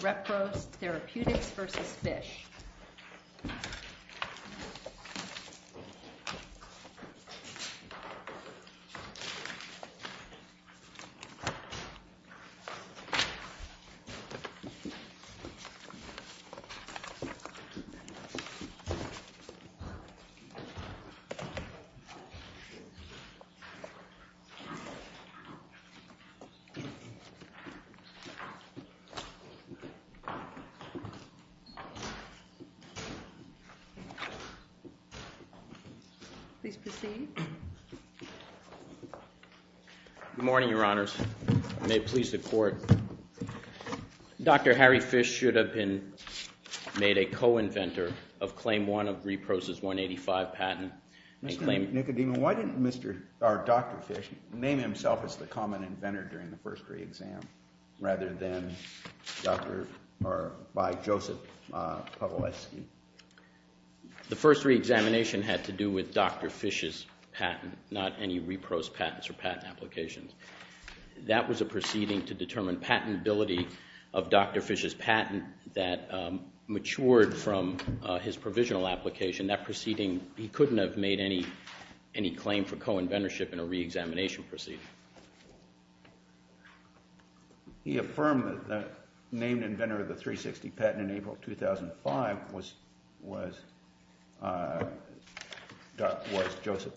Repros Therapeutics v. Fisch Dr. Harry Fisch should have been made a co-inventor of Claim 1 of Repros' 185 patent and claimed Mr. Dr. Fisch name himself as the common inventor during the first re-exam rather than Dr. or by Joseph Pawlowski? The first re-examination had to do with Dr. Fisch's patent, not any Repros' patents or patent applications. That was a proceeding to determine patentability of Dr. Fisch's patent that matured from his provisional application. That proceeding, he couldn't have made any claim for co-inventorship in a re-examination proceeding. He affirmed that the named inventor of the 360 patent in April 2005 was Joseph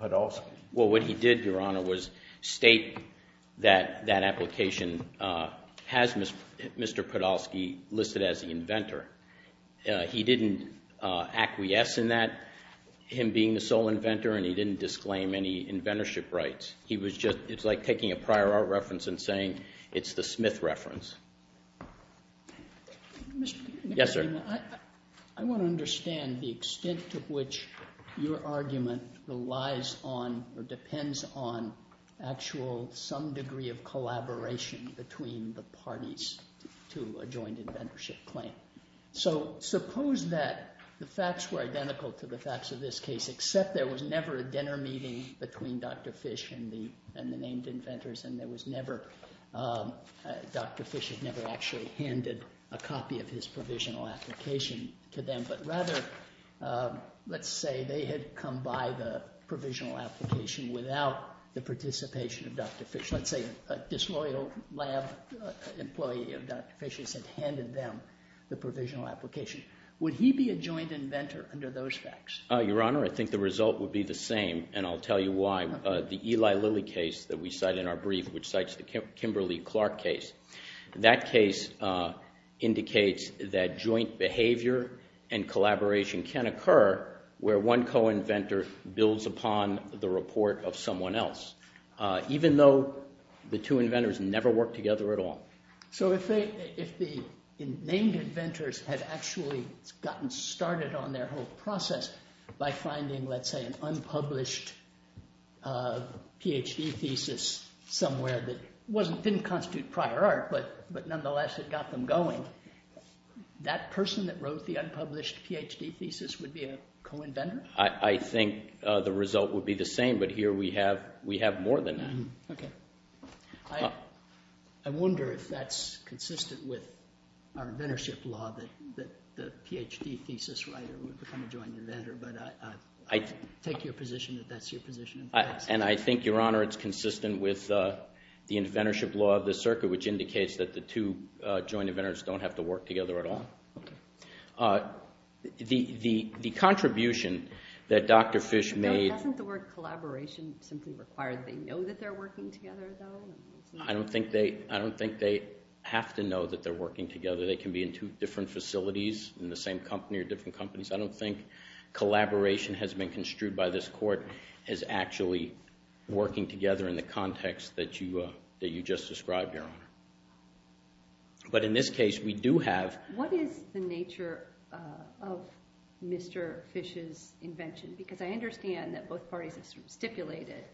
Pawlowski? Well, what he did, Your Honor, was state that that application has Mr. Pawlowski listed as the him being the sole inventor and he didn't disclaim any inventorship rights. He was just, it's like taking a prior art reference and saying it's the Smith reference. Yes, sir. I want to understand the extent to which your argument relies on or depends on actual some degree of collaboration between the parties to a joint inventorship claim. So, suppose that the facts were identical to the facts of this case, except there was never a dinner meeting between Dr. Fisch and the named inventors and there was never, Dr. Fisch had never actually handed a copy of his provisional application to them. But rather, let's say they had come by the provisional application without the participation of Dr. Fisch. Let's say a disloyal employee of Dr. Fisch's had handed them the provisional application. Would he be a joint inventor under those facts? Your Honor, I think the result would be the same and I'll tell you why. The Eli Lilly case that we cite in our brief, which cites the Kimberly-Clark case, that case indicates that joint behavior and collaboration can occur where one co-inventor builds upon the report of someone else, even though the two inventors never worked together at all. So, if the named inventors had actually gotten started on their whole process by finding, let's say, an unpublished Ph.D. thesis somewhere that didn't constitute prior art but nonetheless had got them going, that person that wrote the unpublished Ph.D. thesis would be a co-inventor? I think the result would be the same, but here we have more than that. I wonder if that's consistent with our inventorship law that the Ph.D. thesis writer would become a joint inventor, but I take your position that that's your position. And I think, Your Honor, it's consistent with the inventorship law of this circuit, which indicates that the two joint inventors don't have to work together at all. Okay. The contribution that Dr. Fish made... Doesn't the word collaboration simply require they know that they're working together, though? I don't think they have to know that they're working together. They can be in two different facilities in the same company or different companies. I don't think collaboration has been construed by this court as actually working together in the context that you just described, Your Honor. But in this case, we do have... What is the nature of Mr. Fish's invention? Because I understand that both parties have stipulated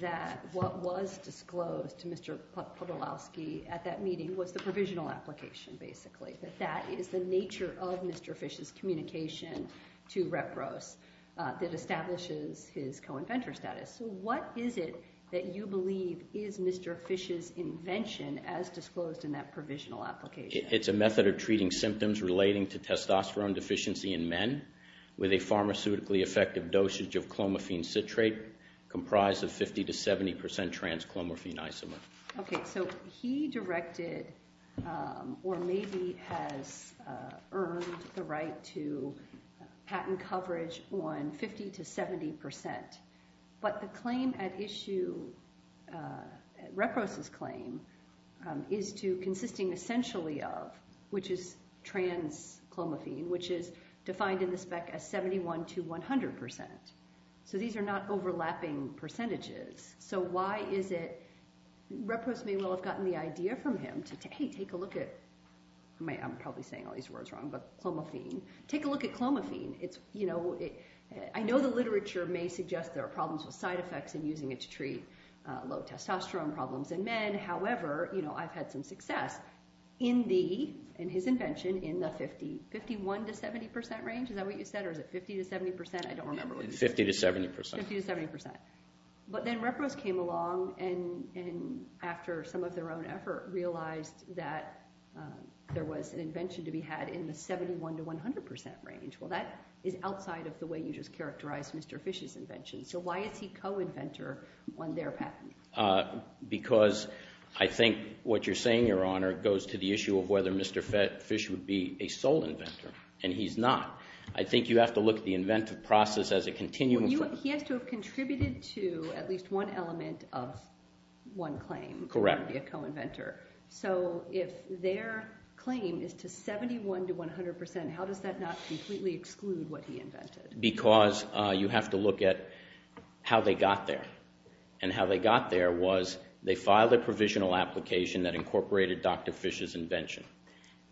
that what was disclosed to Mr. Podolowski at that meeting was the provisional application, basically, that that is the nature of Mr. Fish's communication to Reprose that disclosed in that provisional application. It's a method of treating symptoms relating to testosterone deficiency in men with a pharmaceutically effective dosage of clomiphene citrate comprised of 50% to 70% trans-clomiphene isomer. Okay. So he directed or maybe has earned the right to patent coverage on 50% to 70%. But the claim at issue, Reprose's claim, is to consisting essentially of, which is trans-clomiphene, which is defined in the spec as 71 to 100%. So these are not overlapping percentages. So why is it... Reprose may well have gotten the idea from him to, hey, take a look at... I'm probably saying all these words wrong, but clomiphene. Take a look at clomiphene. I know the literature may suggest there are problems with side effects in using it to treat low testosterone problems in men. However, I've had some success in the, in his invention, in the 51% to 70% range. Is that what you said? Or is it 50% to 70%? I don't remember what you said. 50% to 70%. 50% to 70%. But then Reprose came along and after some of their own effort realized that there was an invention to be had in the 71 to 100% range. Well, that is outside of the way you just characterized Mr. Fish's invention. So why is he co-inventor on their patent? Because I think what you're saying, Your Honor, goes to the issue of whether Mr. Fish would be a sole inventor, and he's not. I think you have to look at the inventive process as a continuum. He has to have contributed to at least one element of one claim to be a co-inventor. So if their claim is to 71 to 100%, how does that not completely exclude what he invented? Because you have to look at how they got there. And how they got there was they filed a provisional application that incorporated Dr. Fish's invention.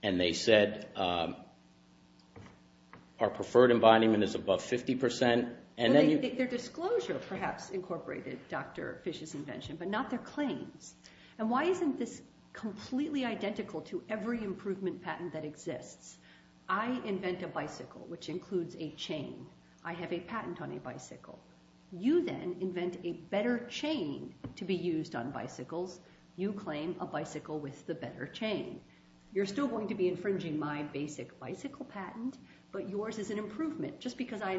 And they said our preferred embodiment is above 50%. And then their disclosure perhaps incorporated Dr. Fish's invention, but not their claims. And why isn't this completely identical to every improvement patent that exists? I invent a bicycle, which includes a chain. I have a patent on a bicycle. You then invent a better chain to be used on bicycles. You claim a bicycle with the better chain. You're still going to be infringing my basic bicycle patent, but yours is an improvement. Just because I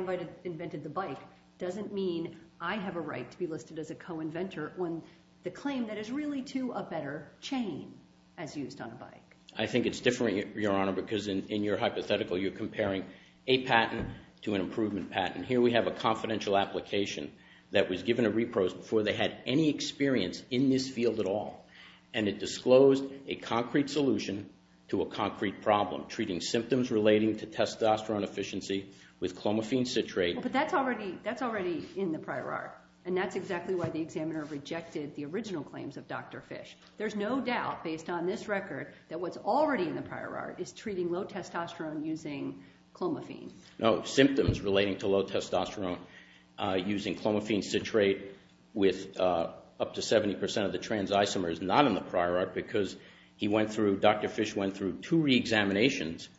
invented the bike doesn't mean I have a right to be listed as a co-inventor when the claim that is really to a better chain as used on a bike. I think it's different, Your Honor, because in your hypothetical, you're comparing a patent to an improvement patent. Here we have a confidential application that was given to repros before they had any experience in this field at all. And it disclosed a concrete solution to a concrete problem, treating symptoms relating to testosterone efficiency with clomiphene citrate. But that's already in the prior art, and that's exactly why the examiner rejected the original claims of Dr. Fish. There's no doubt, based on this record, that what's already in the prior art is treating low testosterone using clomiphene. No, symptoms relating to low testosterone using clomiphene citrate with up to 70% of the trans isomers is not in the prior art because Dr. Fish went through two reexaminations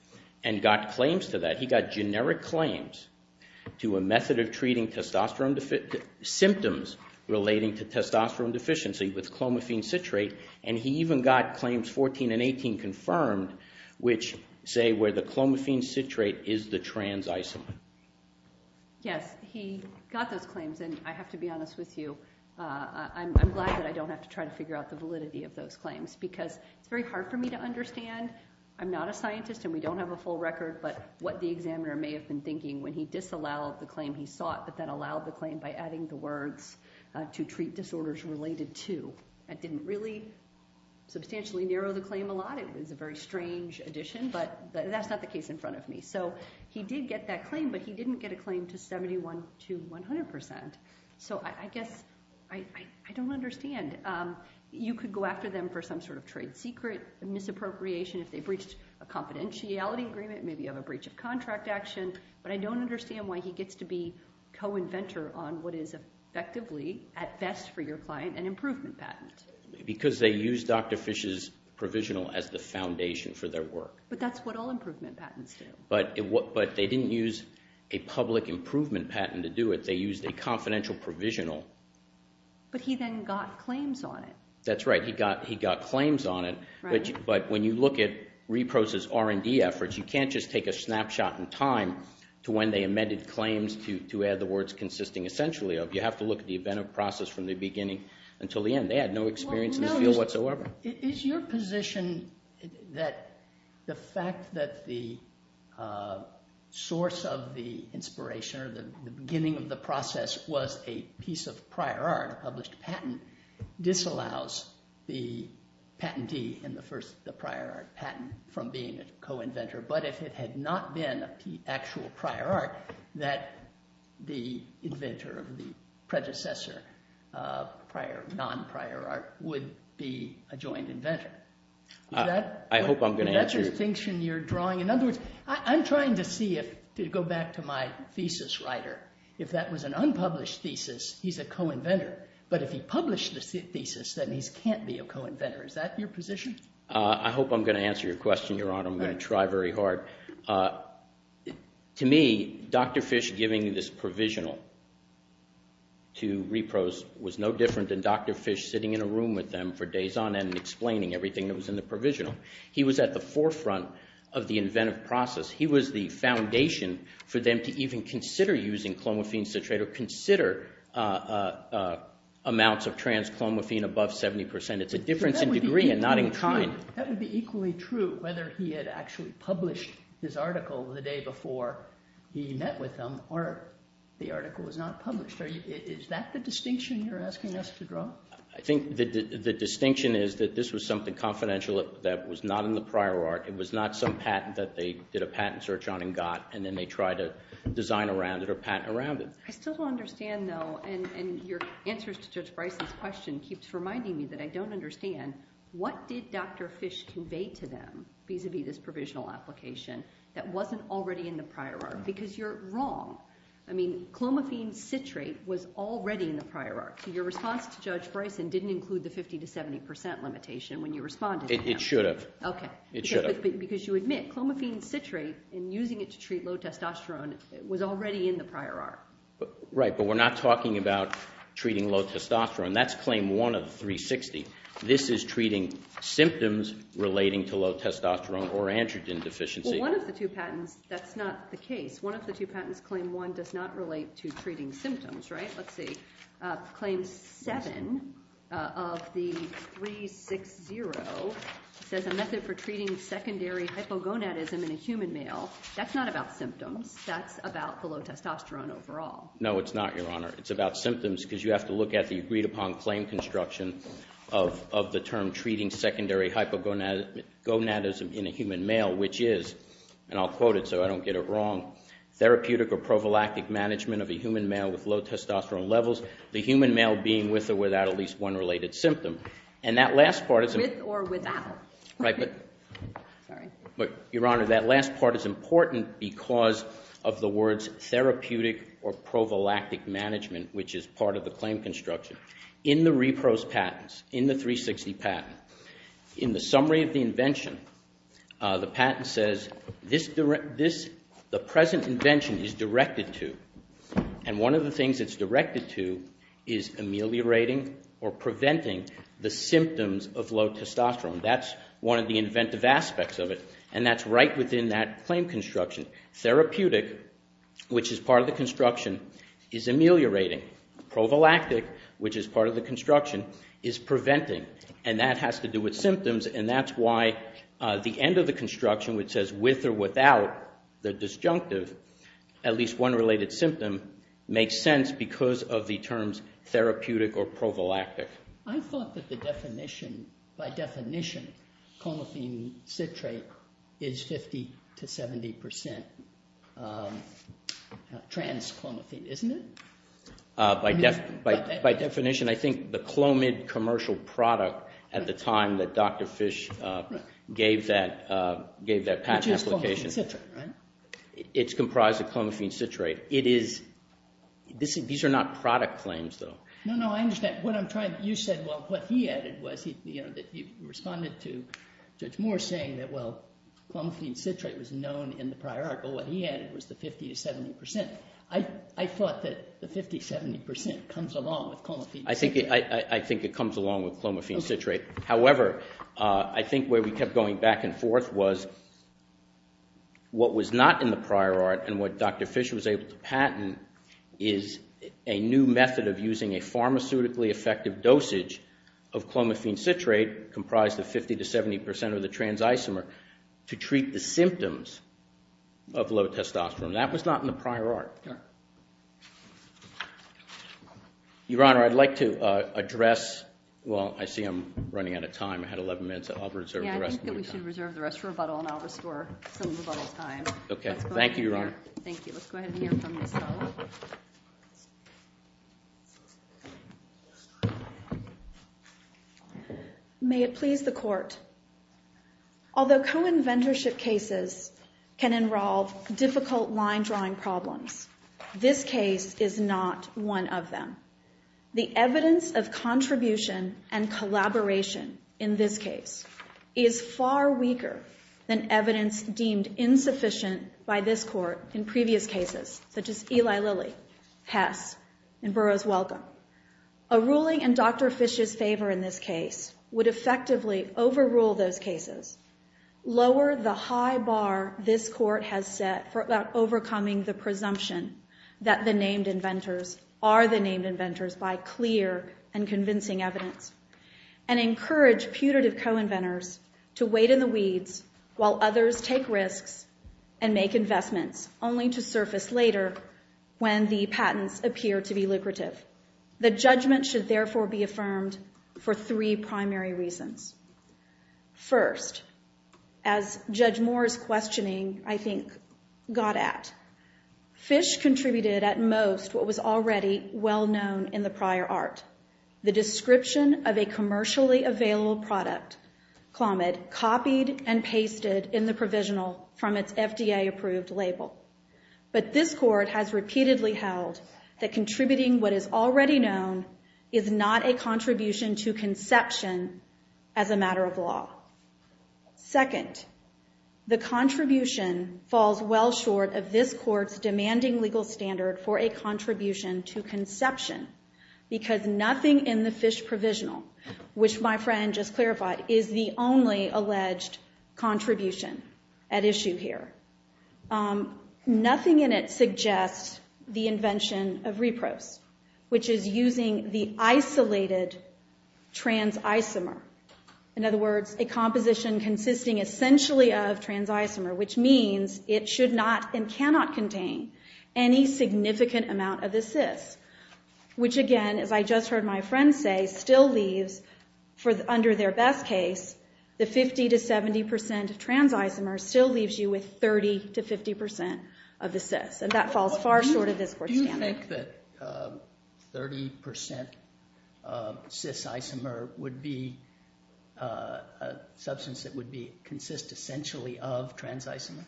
and got claims to that. He got generic claims to a method of treating symptoms relating to testosterone deficiency with clomiphene citrate. And he even got claims 14 and 18 confirmed, which say where the clomiphene citrate is the trans isomer. Yes, he got those claims. And I have to be honest with you. I'm glad that I don't have to try to figure out the validity of those claims because it's very hard for me to understand. I'm not a scientist, and we don't have a full record, but what the examiner may have been thinking when he disallowed the claim he sought but then allowed the claim by adding the words to treat disorders related to. That didn't really substantially narrow the claim a lot. It was a very strange addition, but that's not the case in front of me. So he did get that claim, but he didn't get a claim to 71 to 100%. So I guess I don't understand. You could go after them for some sort of trade secret misappropriation if they breached a confidentiality agreement, maybe have a breach of contract action, but I don't understand why he gets to be co-inventor on what is effectively at best for your client an improvement patent. Because they use Dr. Fish's provisional as the foundation for their work. But that's what all improvement patents do. But they didn't use a public improvement patent to do it. They used a confidential provisional. But he then got claims on it. That's right. He got claims on it, but when you look at Repros' R&D efforts, you can't just take a snapshot in time to when they amended claims to add the words consisting essentially of. You have to look at the event of process from the beginning until the end. They had no experience in this field whatsoever. Is your position that the fact that the source of the inspiration or the beginning of the process was a piece of prior art, a published patent, disallows the patentee and the prior art patent from being a co-inventor? But if it had not been an actual prior art, that the inventor of the predecessor prior, non-prior art, would be a joint inventor? I hope I'm going to answer. Is that the distinction you're drawing? In other words, I'm trying to see if, to go back to my thesis writer, if that was an unpublished thesis, he's a co-inventor. But if he published the thesis, then he can't be a co-inventor. Is that your position? I hope I'm going to answer your question, Your Honor. I'm going to try very hard. To me, Dr. Fish giving this provisional to Repros was no different than Dr. Fish sitting in a room with them for days on end and explaining everything that was in the provisional. He was at the forefront of the inventive process. He was the foundation for them to even consider using clomiphene citrate or consider amounts of trans-clomiphene above 70%. It's a difference in degree and not in kind. That would be equally true whether he had actually published his article the day before he met with them or the article was not published. Is that the distinction you're asking us to draw? I think the distinction is that this was something confidential that was not in the prior art. It was not some patent that they did a patent search on and got, and then they tried to design around it or patent around it. I still don't understand, though, and your answers to Judge Bryson's question keeps reminding me that I don't understand. What did Dr. Fish convey to them vis-a-vis this provisional application that wasn't already in the prior art? Because you're wrong. I mean, clomiphene citrate was already in the prior art. Your response to Judge Bryson didn't include the 50 to 70% limitation when you responded. It should have. Okay. It should have. Because you admit clomiphene citrate and using it to treat low testosterone was already in the prior art. Right, but we're not talking about treating low testosterone. That's claim one of the 360. This is treating symptoms relating to low testosterone or androgen deficiency. Well, one of the two patents, that's not the case. One of the two patents, claim one, does not relate to treating symptoms, right? Let's see. Claim seven of the 360 says a method for treating secondary hypogonadism in a human male. That's not about symptoms. That's about the low testosterone overall. No, it's not, Your Honor. It's about symptoms because you have to look at the agreed upon claim construction of the term treating secondary hypogonadism in a human male, which is, and I'll quote it so I don't get it wrong, therapeutic or prophylactic management of a human male with low testosterone levels, the human male being with or without at least one related symptom. And that last part is... With or without. Right, but... Sorry. But, Your Honor, that last part is important because of the words therapeutic or prophylactic management, which is part of the claim construction. In the repro's patents, in the 360 patent, in the summary of the invention, the patent says the present invention is directed to, and one of the things it's directed to is ameliorating or preventing the symptoms of low testosterone. That's one of the inventive aspects of it, and that's right within that claim construction. Therapeutic, which is part of the construction, is ameliorating. Prophylactic, which is part of the construction, is preventing, and that has to do with symptoms, and that's why the end of the construction, which says with or without the disjunctive, at least one related symptom, makes sense because of the terms therapeutic or prophylactic. I thought that the definition, by definition, clomiphene citrate is 50 to 70 percent trans-clomiphene, isn't it? By definition, I think the Clomid commercial product at the time that Dr. Fish gave that patent application, it's comprised of clomiphene citrate. These are not product claims, though. No, no, I understand. What I'm trying, you said, well, what he added was, that you responded to Judge Moore saying that, well, clomiphene citrate was known in the prior art, but what he added was the 50 to 70 percent. I thought that the 50 to 70 percent comes along with clomiphene citrate. I think it comes along with clomiphene citrate. However, I think where we kept going back and forth was what was not in the prior art and what Dr. Fish was able to patent is a new method of using a pharmaceutically effective dosage of clomiphene citrate comprised of 50 to 70 percent of the trans-isomer to treat the symptoms of low testosterone. That was not in the prior art. Your Honor, I'd like to address, well, I see I'm running out of time. I had 11 minutes. I'll reserve the rest. Yeah, I think that we should reserve the rest for rebuttal and I'll go ahead and hear from Ms. Hull. May it please the Court. Although co-inventorship cases can involve difficult line drawing problems, this case is not one of them. The evidence of contribution and collaboration in this case is far weaker than evidence deemed insufficient by this Court in Eli Lilly, Hess, and Burroughs Welcome. A ruling in Dr. Fish's favor in this case would effectively overrule those cases, lower the high bar this Court has set for overcoming the presumption that the named inventors are the named inventors by clear and convincing evidence, and encourage putative co-inventors to wait in the weeds while others take risks and make investments only to later when the patents appear to be lucrative. The judgment should therefore be affirmed for three primary reasons. First, as Judge Moore's questioning, I think, got at, Fish contributed at most what was already well known in the prior art, the description of a commercially available product, Clomid, copied and pasted in the provisional from its FDA approved label. But this Court has repeatedly held that contributing what is already known is not a contribution to conception as a matter of law. Second, the contribution falls well short of this Court's demanding legal standard for a contribution to conception because nothing in the Fish provisional, which my friend just clarified, is the only alleged contribution at issue here. Nothing in it suggests the invention of repros, which is using the isolated trans-isomer. In other words, a composition consisting essentially of trans-isomer, which means it should not and cannot contain any significant amount of the cis, which again, as I just heard my friend say, still leaves, under their best case, the 50 to 70 percent trans-isomer still leaves you with 30 to 50 percent of the cis, and that falls far short of this Court's standard. Do you think that 30 percent cis-isomer would be a substance that consists essentially of trans-isomer?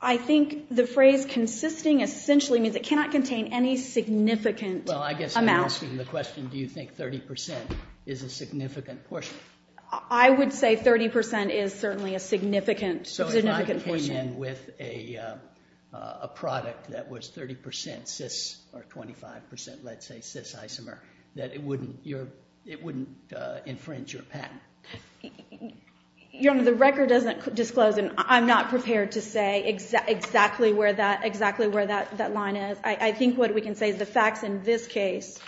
I think the phrase consisting essentially means it cannot contain any significant amount. Well, I guess I'm asking the question, do you think 30 percent is a significant portion? I would say 30 percent is certainly a significant portion. So if I came in with a product that was 30 percent cis or 25 percent, let's say, cis-isomer, that it wouldn't infringe your patent. Your Honor, the record doesn't disclose, and I'm not prepared to say exactly where that line is. I think what we can say is the facts in this case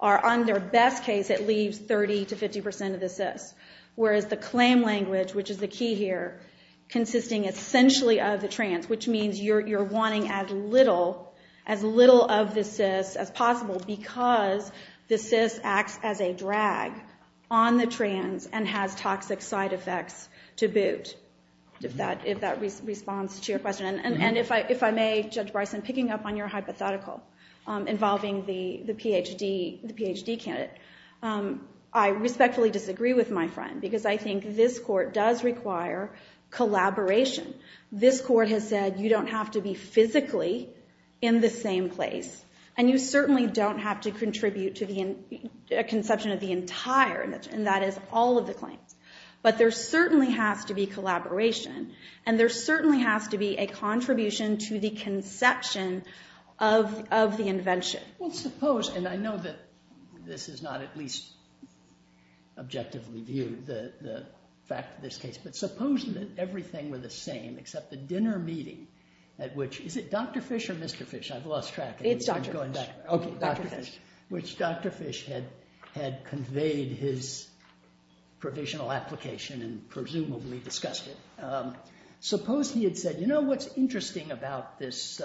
are under best case, it leaves 30 to 50 percent of the cis, whereas the claim language, which is the key here, consisting essentially of the trans, which means you're wanting as little of the cis as possible because the cis acts as a drag on the trans and has toxic side effects to boot, if that responds to your question. And if I may, Judge Bryson, picking up on your hypothetical involving the PhD candidate, I respectfully disagree with my friend, because I think this Court does require collaboration. This Court has said you don't have to be physically in the same place, and you certainly don't have to contribute to the conception of the entire, and that is all of the claims. But there certainly has to be collaboration, and there certainly has to be a contribution to the conception of the invention. Well, suppose, and I know that this is not at least objectively viewed, the fact of this case, but suppose that everything were the same except the dinner meeting at which, is it Dr. Fish or Mr. Fish? I've lost track. It's Dr. Fish. Okay, Dr. Fish, which Dr. Fish had conveyed his provisional application and presumably discussed it. Suppose he had said, you know, what's interesting about this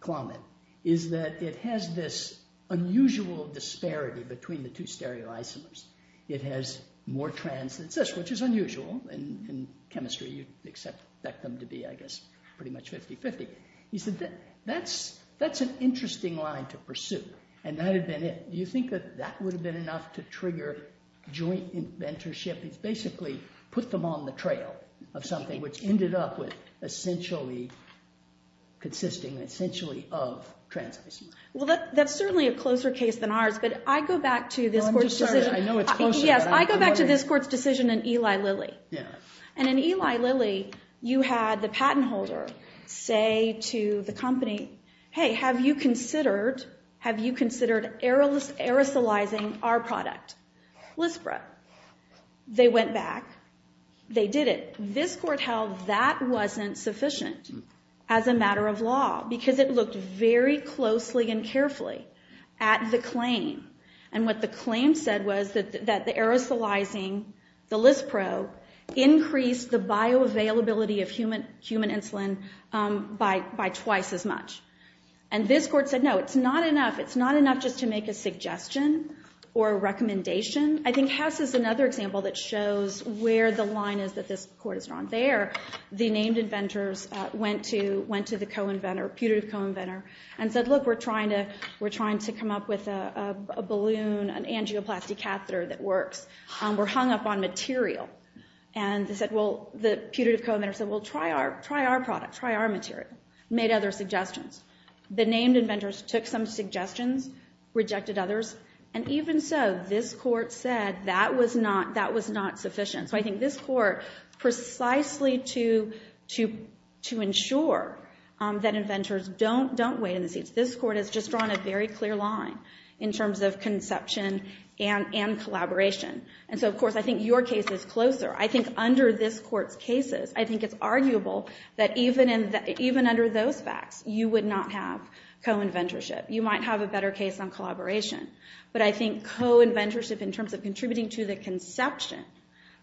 climate is that it has this unusual disparity between the two stereoisomers. It has more trans than cis, which is unusual in chemistry. You'd expect them to be, I guess, pretty much 50-50. He said, that's an interesting line to pursue, and that had been it. Do you think that that would have been enough to trigger joint inventorship? It's basically put them on the trail of something which ended up with essentially consisting, essentially, of trans-cis. Well, that's certainly a closer case than ours, but I go back to this Court's decision. I know it's closer. Yes, I go back to this Court's decision in Eli Lilly, and in Eli Lilly, you had the patent holder say to the company, hey, have you considered aerosolizing our product, Lispro? They went back. They did it. This Court held that wasn't sufficient as a matter of law because it looked very closely and carefully at the claim, and what the claim said was that the aerosolizing, the Lispro, increased the bioavailability of human insulin by twice as much, and this Court said, no, it's not enough. It's not enough just to make a suggestion or a recommendation. I think Hess is another example that shows where the line is that this Court has drawn. There, the named inventors went to the co-inventor, putative co-inventor, and said, look, we're trying to come up with a balloon, an angioplasty catheter that works. We're hung up on material, and they said, well, the putative co-inventor said, well, try our product. Try our material. Made other suggestions. The named inventors took some suggestions, rejected others, and even so, this Court said that was not sufficient, so I think this Court precisely to ensure that inventors don't wait in the seats, this Court has just drawn a very clear line in terms of conception and collaboration, and so, of course, I think your case is closer. I think under this Court's cases, I think it's arguable that even under those facts, you would not have co-inventorship. You might have a better case on collaboration, but I think co-inventorship in terms of contributing to the conception,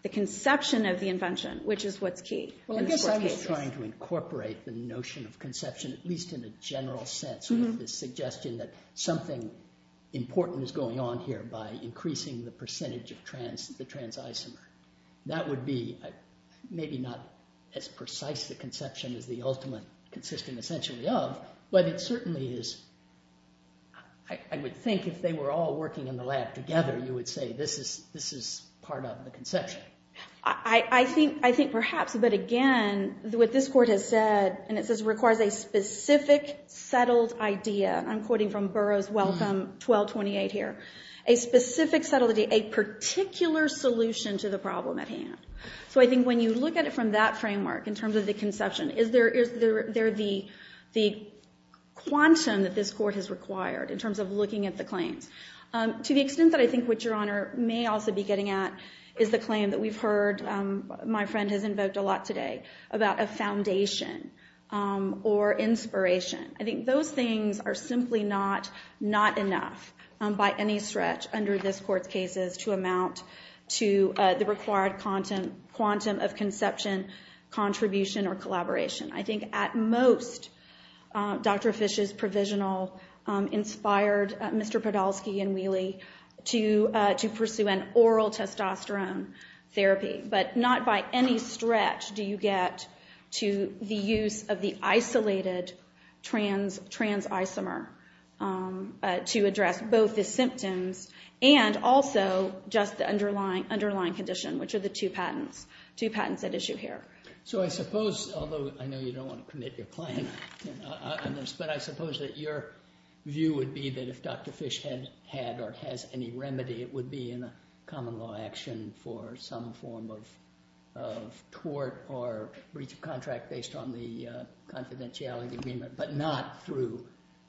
the conception of the invention, which is what's key. Well, I guess I was trying to incorporate the notion of conception, at least in a general sense, with the suggestion that something important is going on here by increasing the percentage of the trans isomer. That would be maybe not as precise a conception as the ultimate consisting essentially of, but it certainly is. I would think if they were all working in the lab together, you would say this is part of the conception. I think perhaps, but again, what this Court has said, and it says requires a specific settled idea. I'm quoting from Burroughs Welcome 1228 here. A specific settled idea, a particular solution to the problem at hand. So I think when you look at it from that framework in terms of the conception, is there the quantum that this Court has required in terms of looking at the claims? To the extent that I think what Your Honor may also be getting at is the claim that we've heard, my friend has invoked a lot today, about a foundation or inspiration. I think those things are simply not enough by any stretch under this Court's cases to amount to the required quantum of conception, contribution, or collaboration. I think at most, Dr. Fisch's provisional inspired Mr. Podolsky and Wheely to pursue an oral testosterone therapy, but not by any stretch do you get to the use of the isolated trans isomer to address both the symptoms and also just the underlying condition, which are the two patents at issue here. So I suppose, although I know you don't want to commit your claim on this, but I suppose that your view would be that if Dr. Fisch had or has any remedy, it would be in a common law action for some form of tort or breach of contract based on the confidentiality agreement, but not through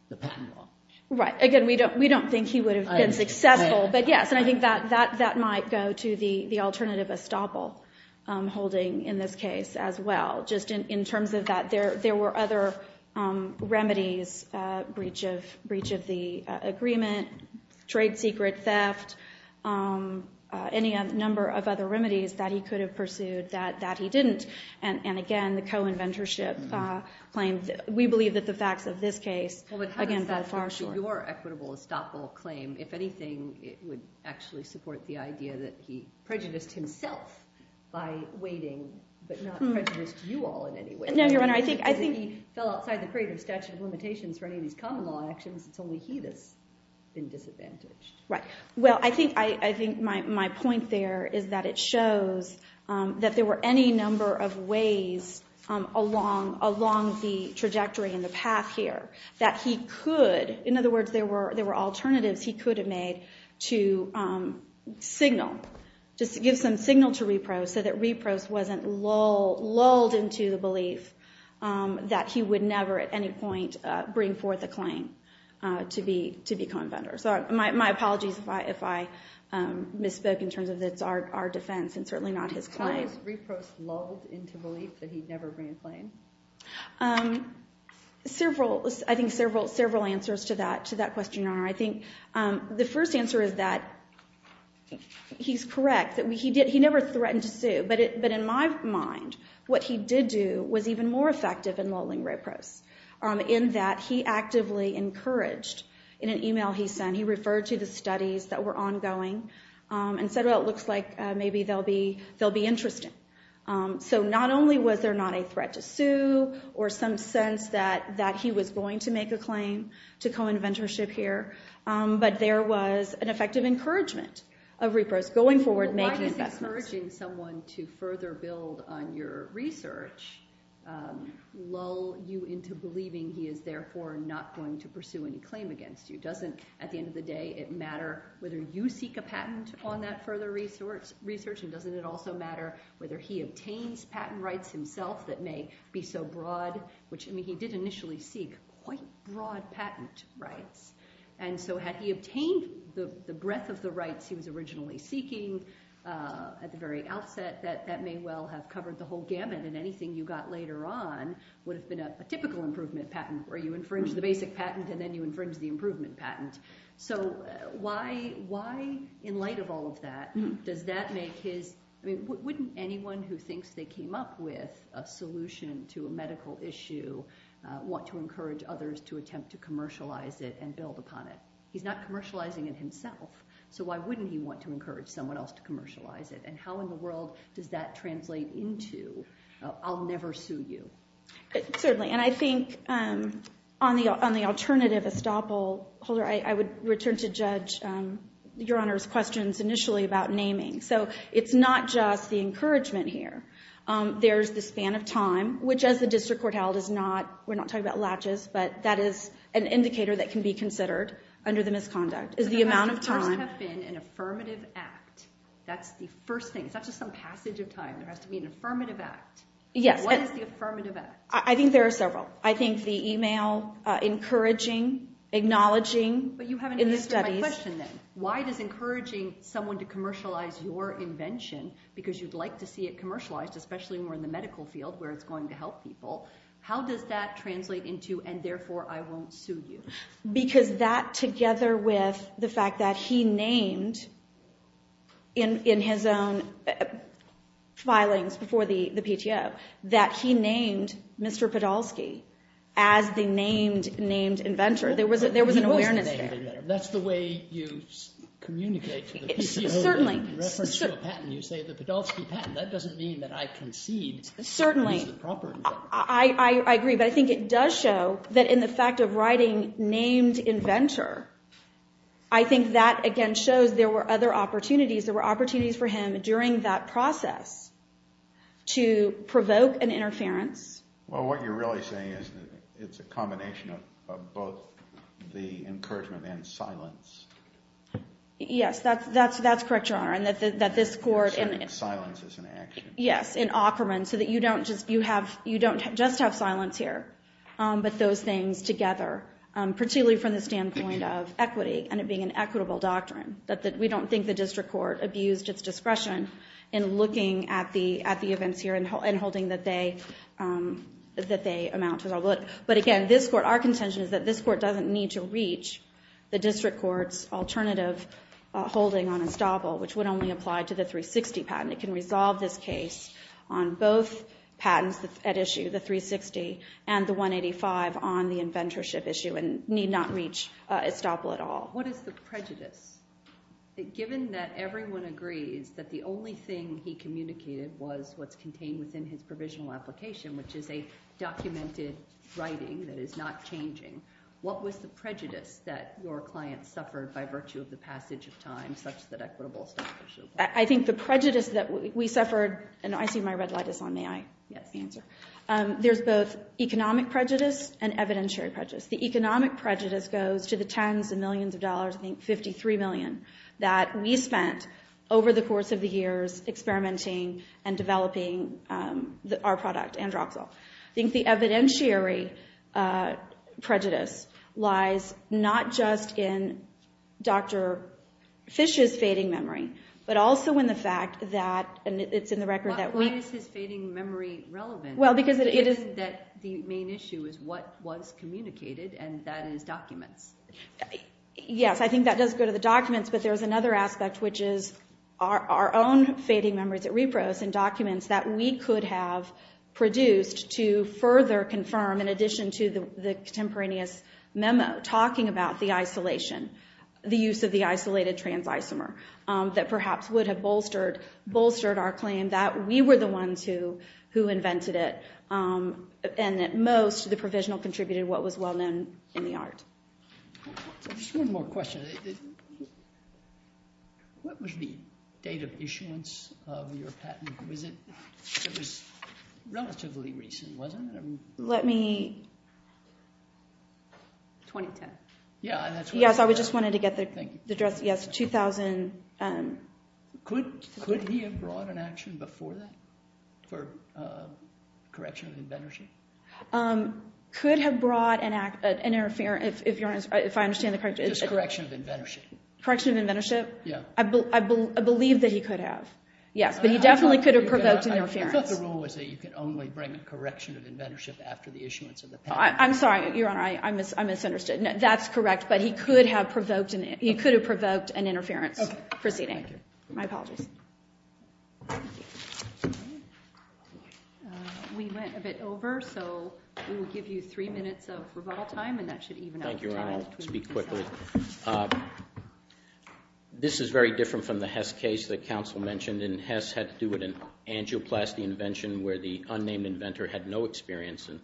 the patent law. Right. Again, we don't think he would have been successful, but yes, I think that might go to the alternative estoppel holding in this case as well, just in terms of that there were other remedies, breach of the agreement, trade secret theft, any number of other remedies that he could have pursued that he didn't. And again, the co-inventorship claim, we believe that the facts of this case, again, go far short. Your equitable estoppel claim, if anything, it would actually support the idea that he prejudiced himself by waiting, but not prejudiced you all in any way. No, Your Honor, I think- If he fell outside the creative statute of limitations for any of these common law actions, it's only he that's been disadvantaged. Right. Well, I think my point there is that it shows that there were any number of ways along the trajectory and the path here that he could, in other words, there were alternatives he could have made to signal, just give some signal to Reprose so that Reprose wasn't lulled into the belief that he would never at any point bring forth a claim to be co-inventor. So my apologies if I misspoke in terms of that's our defense and certainly not his claim. How was Reprose lulled into belief that he'd never bring a claim? Several, I think several answers to that question, Your Honor. I think the first answer is that he's correct that he never threatened to sue. But in my mind, what he did do was even more effective in lulling Reprose in that he actively encouraged, in an email he sent, he referred to the studies that were ongoing and said, well, it looks like maybe they'll be interesting. So not only was there not a threat to sue or some sense that he was going to make a claim to co-inventorship here, but there was an effective encouragement of Reprose going forward making investments. Why does encouraging someone to further build on your research lull you into believing he is therefore not going to pursue any claim against you? Doesn't, at the end of the day, it matter whether you seek a patent on that further research and doesn't it also matter whether he obtains patent rights himself that may be so broad, which I mean, he did initially seek quite broad patent rights. And so had he obtained the breadth of the rights he was originally seeking at the very outset, that may well have covered the whole gamut and anything you got later on would have been a typical improvement patent where you infringe the basic patent and then you infringe the improvement patent. So why, in light of all of that, does that make his, I mean, wouldn't anyone who thinks they came up with a solution to a medical issue want to encourage others to attempt to commercialize it and build upon it? He's not commercializing it himself, so why wouldn't he want to encourage someone else to commercialize it? And how in the world does that translate into, I'll never sue you? Certainly, and I think on the alternative estoppel holder, I would return to Judge Your Honor's questions initially about naming. So it's not just the encouragement here. There's the span of time, which as the district court held, is not, we're not talking about latches, but that is an indicator that can be considered under the misconduct, is the amount of time. It must first have been an affirmative act. That's the first thing. It's not just some passage of time. There has to be an affirmative act. Yes. What is the affirmative act? I think there are several. I think the email, encouraging, acknowledging in the studies. But you haven't answered my question then. Why does encouraging someone to commercialize your invention, because you'd like to see it commercialized, especially more in the medical field where it's going to help people, how does that translate into, and therefore, I won't sue you? Because that, together with the fact that he had his own filings before the PTO, that he named Mr. Podolsky as the named, named inventor. There was an awareness there. He wasn't named inventor. That's the way you communicate to the PTO. Certainly. In reference to a patent, you say the Podolsky patent. That doesn't mean that I concede that he's the proper inventor. Certainly. I agree, but I think it does show that in the fact of writing named inventor, I think that, again, shows there were other during that process to provoke an interference. Well, what you're really saying is that it's a combination of both the encouragement and silence. Yes, that's correct, Your Honor, and that this court... Silence is an action. Yes, in Aukerman, so that you don't just have silence here, but those things together, particularly from the standpoint of equity and it being an equitable doctrine, that we don't think the district court abused its discretion in looking at the events here and holding that they amount to... But again, this court, our contention is that this court doesn't need to reach the district court's alternative holding on estoppel, which would only apply to the 360 patent. It can resolve this case on both patents at issue, the 360 and the 185 on the inventorship issue and need not reach estoppel at all. What is the prejudice given that everyone agrees that the only thing he communicated was what's contained within his provisional application, which is a documented writing that is not changing? What was the prejudice that your client suffered by virtue of the passage of time such that equitable establishment? I think the prejudice that we suffered, and I see my red light is on, may I answer? Yes. There's both economic prejudice and evidentiary prejudice. The economic prejudice goes to the that we spent over the course of the years experimenting and developing our product, Androxol. I think the evidentiary prejudice lies not just in Dr. Fish's fading memory, but also in the fact that, and it's in the record that we... Why is his fading memory relevant? Well, because it is... That the main issue is what was communicated and that is documents. Yes, I think that does go to the documents, but there's another aspect, which is our own fading memories at Repros and documents that we could have produced to further confirm, in addition to the contemporaneous memo, talking about the isolation, the use of the isolated trans isomer that perhaps would have bolstered our claim that we were the ones who invented it, and that most of the provisional contributed what was well known in the art. Just one more question. What was the date of issuance of your patent? It was relatively recent, wasn't it? Let me... 2010. Yeah, that's right. Yes, I just wanted to get the address. Yes, 2000. Could he have brought an action before that for correction of inventorship? He could have brought an interference, if I understand the correct... Just correction of inventorship. Correction of inventorship? Yeah. I believe that he could have. Yes, but he definitely could have provoked an interference. I thought the rule was that you could only bring a correction of inventorship after the issuance of the patent. I'm sorry, Your Honor. I misunderstood. That's correct, but he could have provoked an interference proceeding. Okay. Thank you. My apologies. We went a bit over, so we will give you three minutes of rebuttal time, and that should even out the time. Thank you, Your Honor. I'll speak quickly. This is very different from the Hess case that counsel mentioned, and Hess had to do with an angioplasty invention where the unnamed inventor had no experience in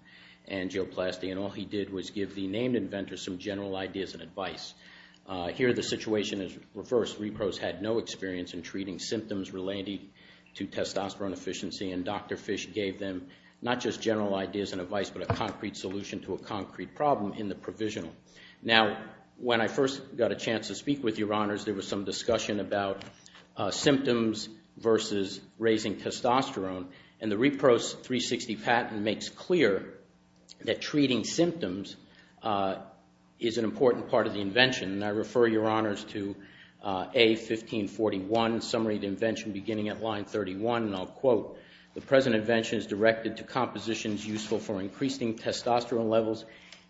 angioplasty, and all he did was give the named inventor some general ideas and advice. Here, the situation is reversed. Repros had no experience in treating symptoms related to testosterone efficiency, and Dr. Fish gave them not just general ideas and advice, but a concrete solution to a concrete problem in the provisional. Now, when I first got a chance to speak with Your Honors, there was some discussion about symptoms versus raising testosterone, and the Repros 360 patent makes clear that treating symptoms is an important part of the invention, and I refer Your Honors to A. 1541, Summary of the Invention, beginning at line 31, and I'll quote, The present invention is directed to compositions useful for increasing testosterone levels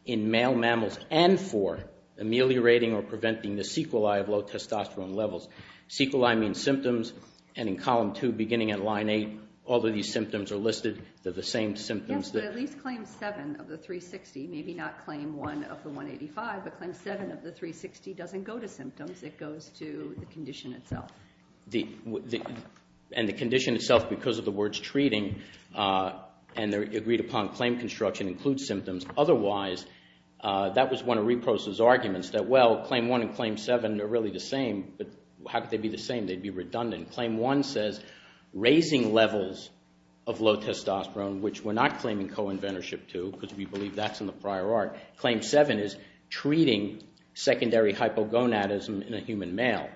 in male mammals and for ameliorating or preventing the sequelae of low testosterone levels. Sequelae means symptoms, and in column 2, beginning at line 8, all of these symptoms are listed. They're the same symptoms. Yes, but at least Claim 7 of the 360, maybe not Claim 1 of the 185, but Claim 7 of the 360 doesn't go to symptoms. It goes to the condition itself. And the condition itself, because of the words treating, and they're agreed upon, claim construction includes symptoms. Otherwise, that was one of Repros' arguments that, well, Claim 1 and Claim 7 are really the same, but how could they be the same? They'd be redundant. Claim 1 says, Raising levels of low testosterone, which we're not claiming co-inventorship to, because we believe that's in the prior art. Claim 7 is treating secondary hypogonadism in a human male.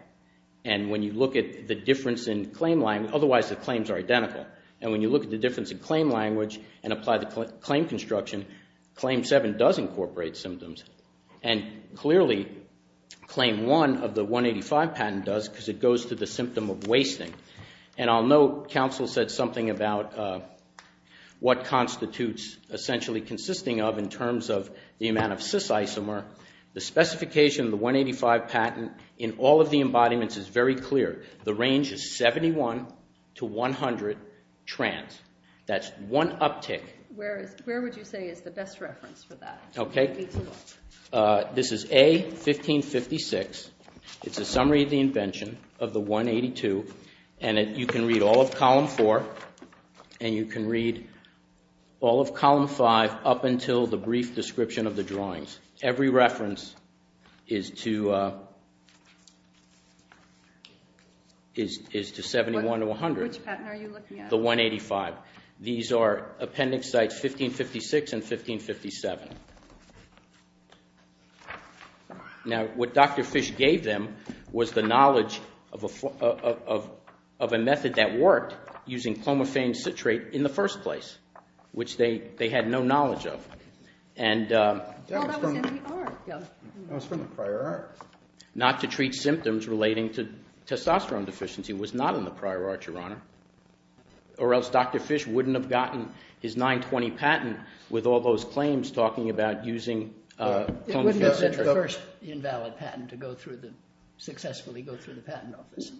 And when you look at the difference in claim language, otherwise, the claims are identical. And when you look at the difference in claim language and apply the claim construction, Claim 7 does incorporate symptoms. And clearly, Claim 1 of the 185 does because it goes to the symptom of wasting. And I'll note, counsel said something about what constitutes essentially consisting of in terms of the amount of cis isomer. The specification of the 185 patent in all of the embodiments is very clear. The range is 71 to 100 trans. That's one uptick. Where would you say is the best reference for that? Okay. This is A, 1556. It's a summary of the invention of the 182. And you can read all of Column 4 and you can read all of Column 5 up until the brief description of the drawings. Every reference is to 71 to 100. Which patent are you looking at? The 185. These are appendix sites 1556 and 1557. Now, what Dr. Fish gave them was the knowledge of a method that worked using clomiphane citrate in the first place, which they had no knowledge of. And not to treat symptoms relating to testosterone deficiency was not in the prior art, Your Honor. Or else Dr. Fish wouldn't have gotten his 920 patent with all those claims talking about using clomiphane citrate. It wouldn't have been the first invalid patent to go through the, successfully go through the patent office.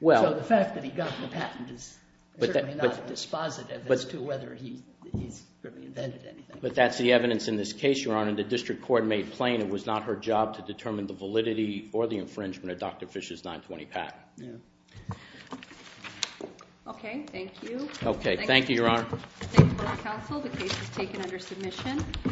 So the fact that he got the patent is certainly not dispositive as to whether he's really invented anything. But that's the evidence in this case, Your Honor. And the district court made plain it was not her job to determine the validity or the infringement of Dr. Fish's 920 patent. Yeah. Okay. Thank you. Okay. Thank you, Your Honor. The case is taken under submission.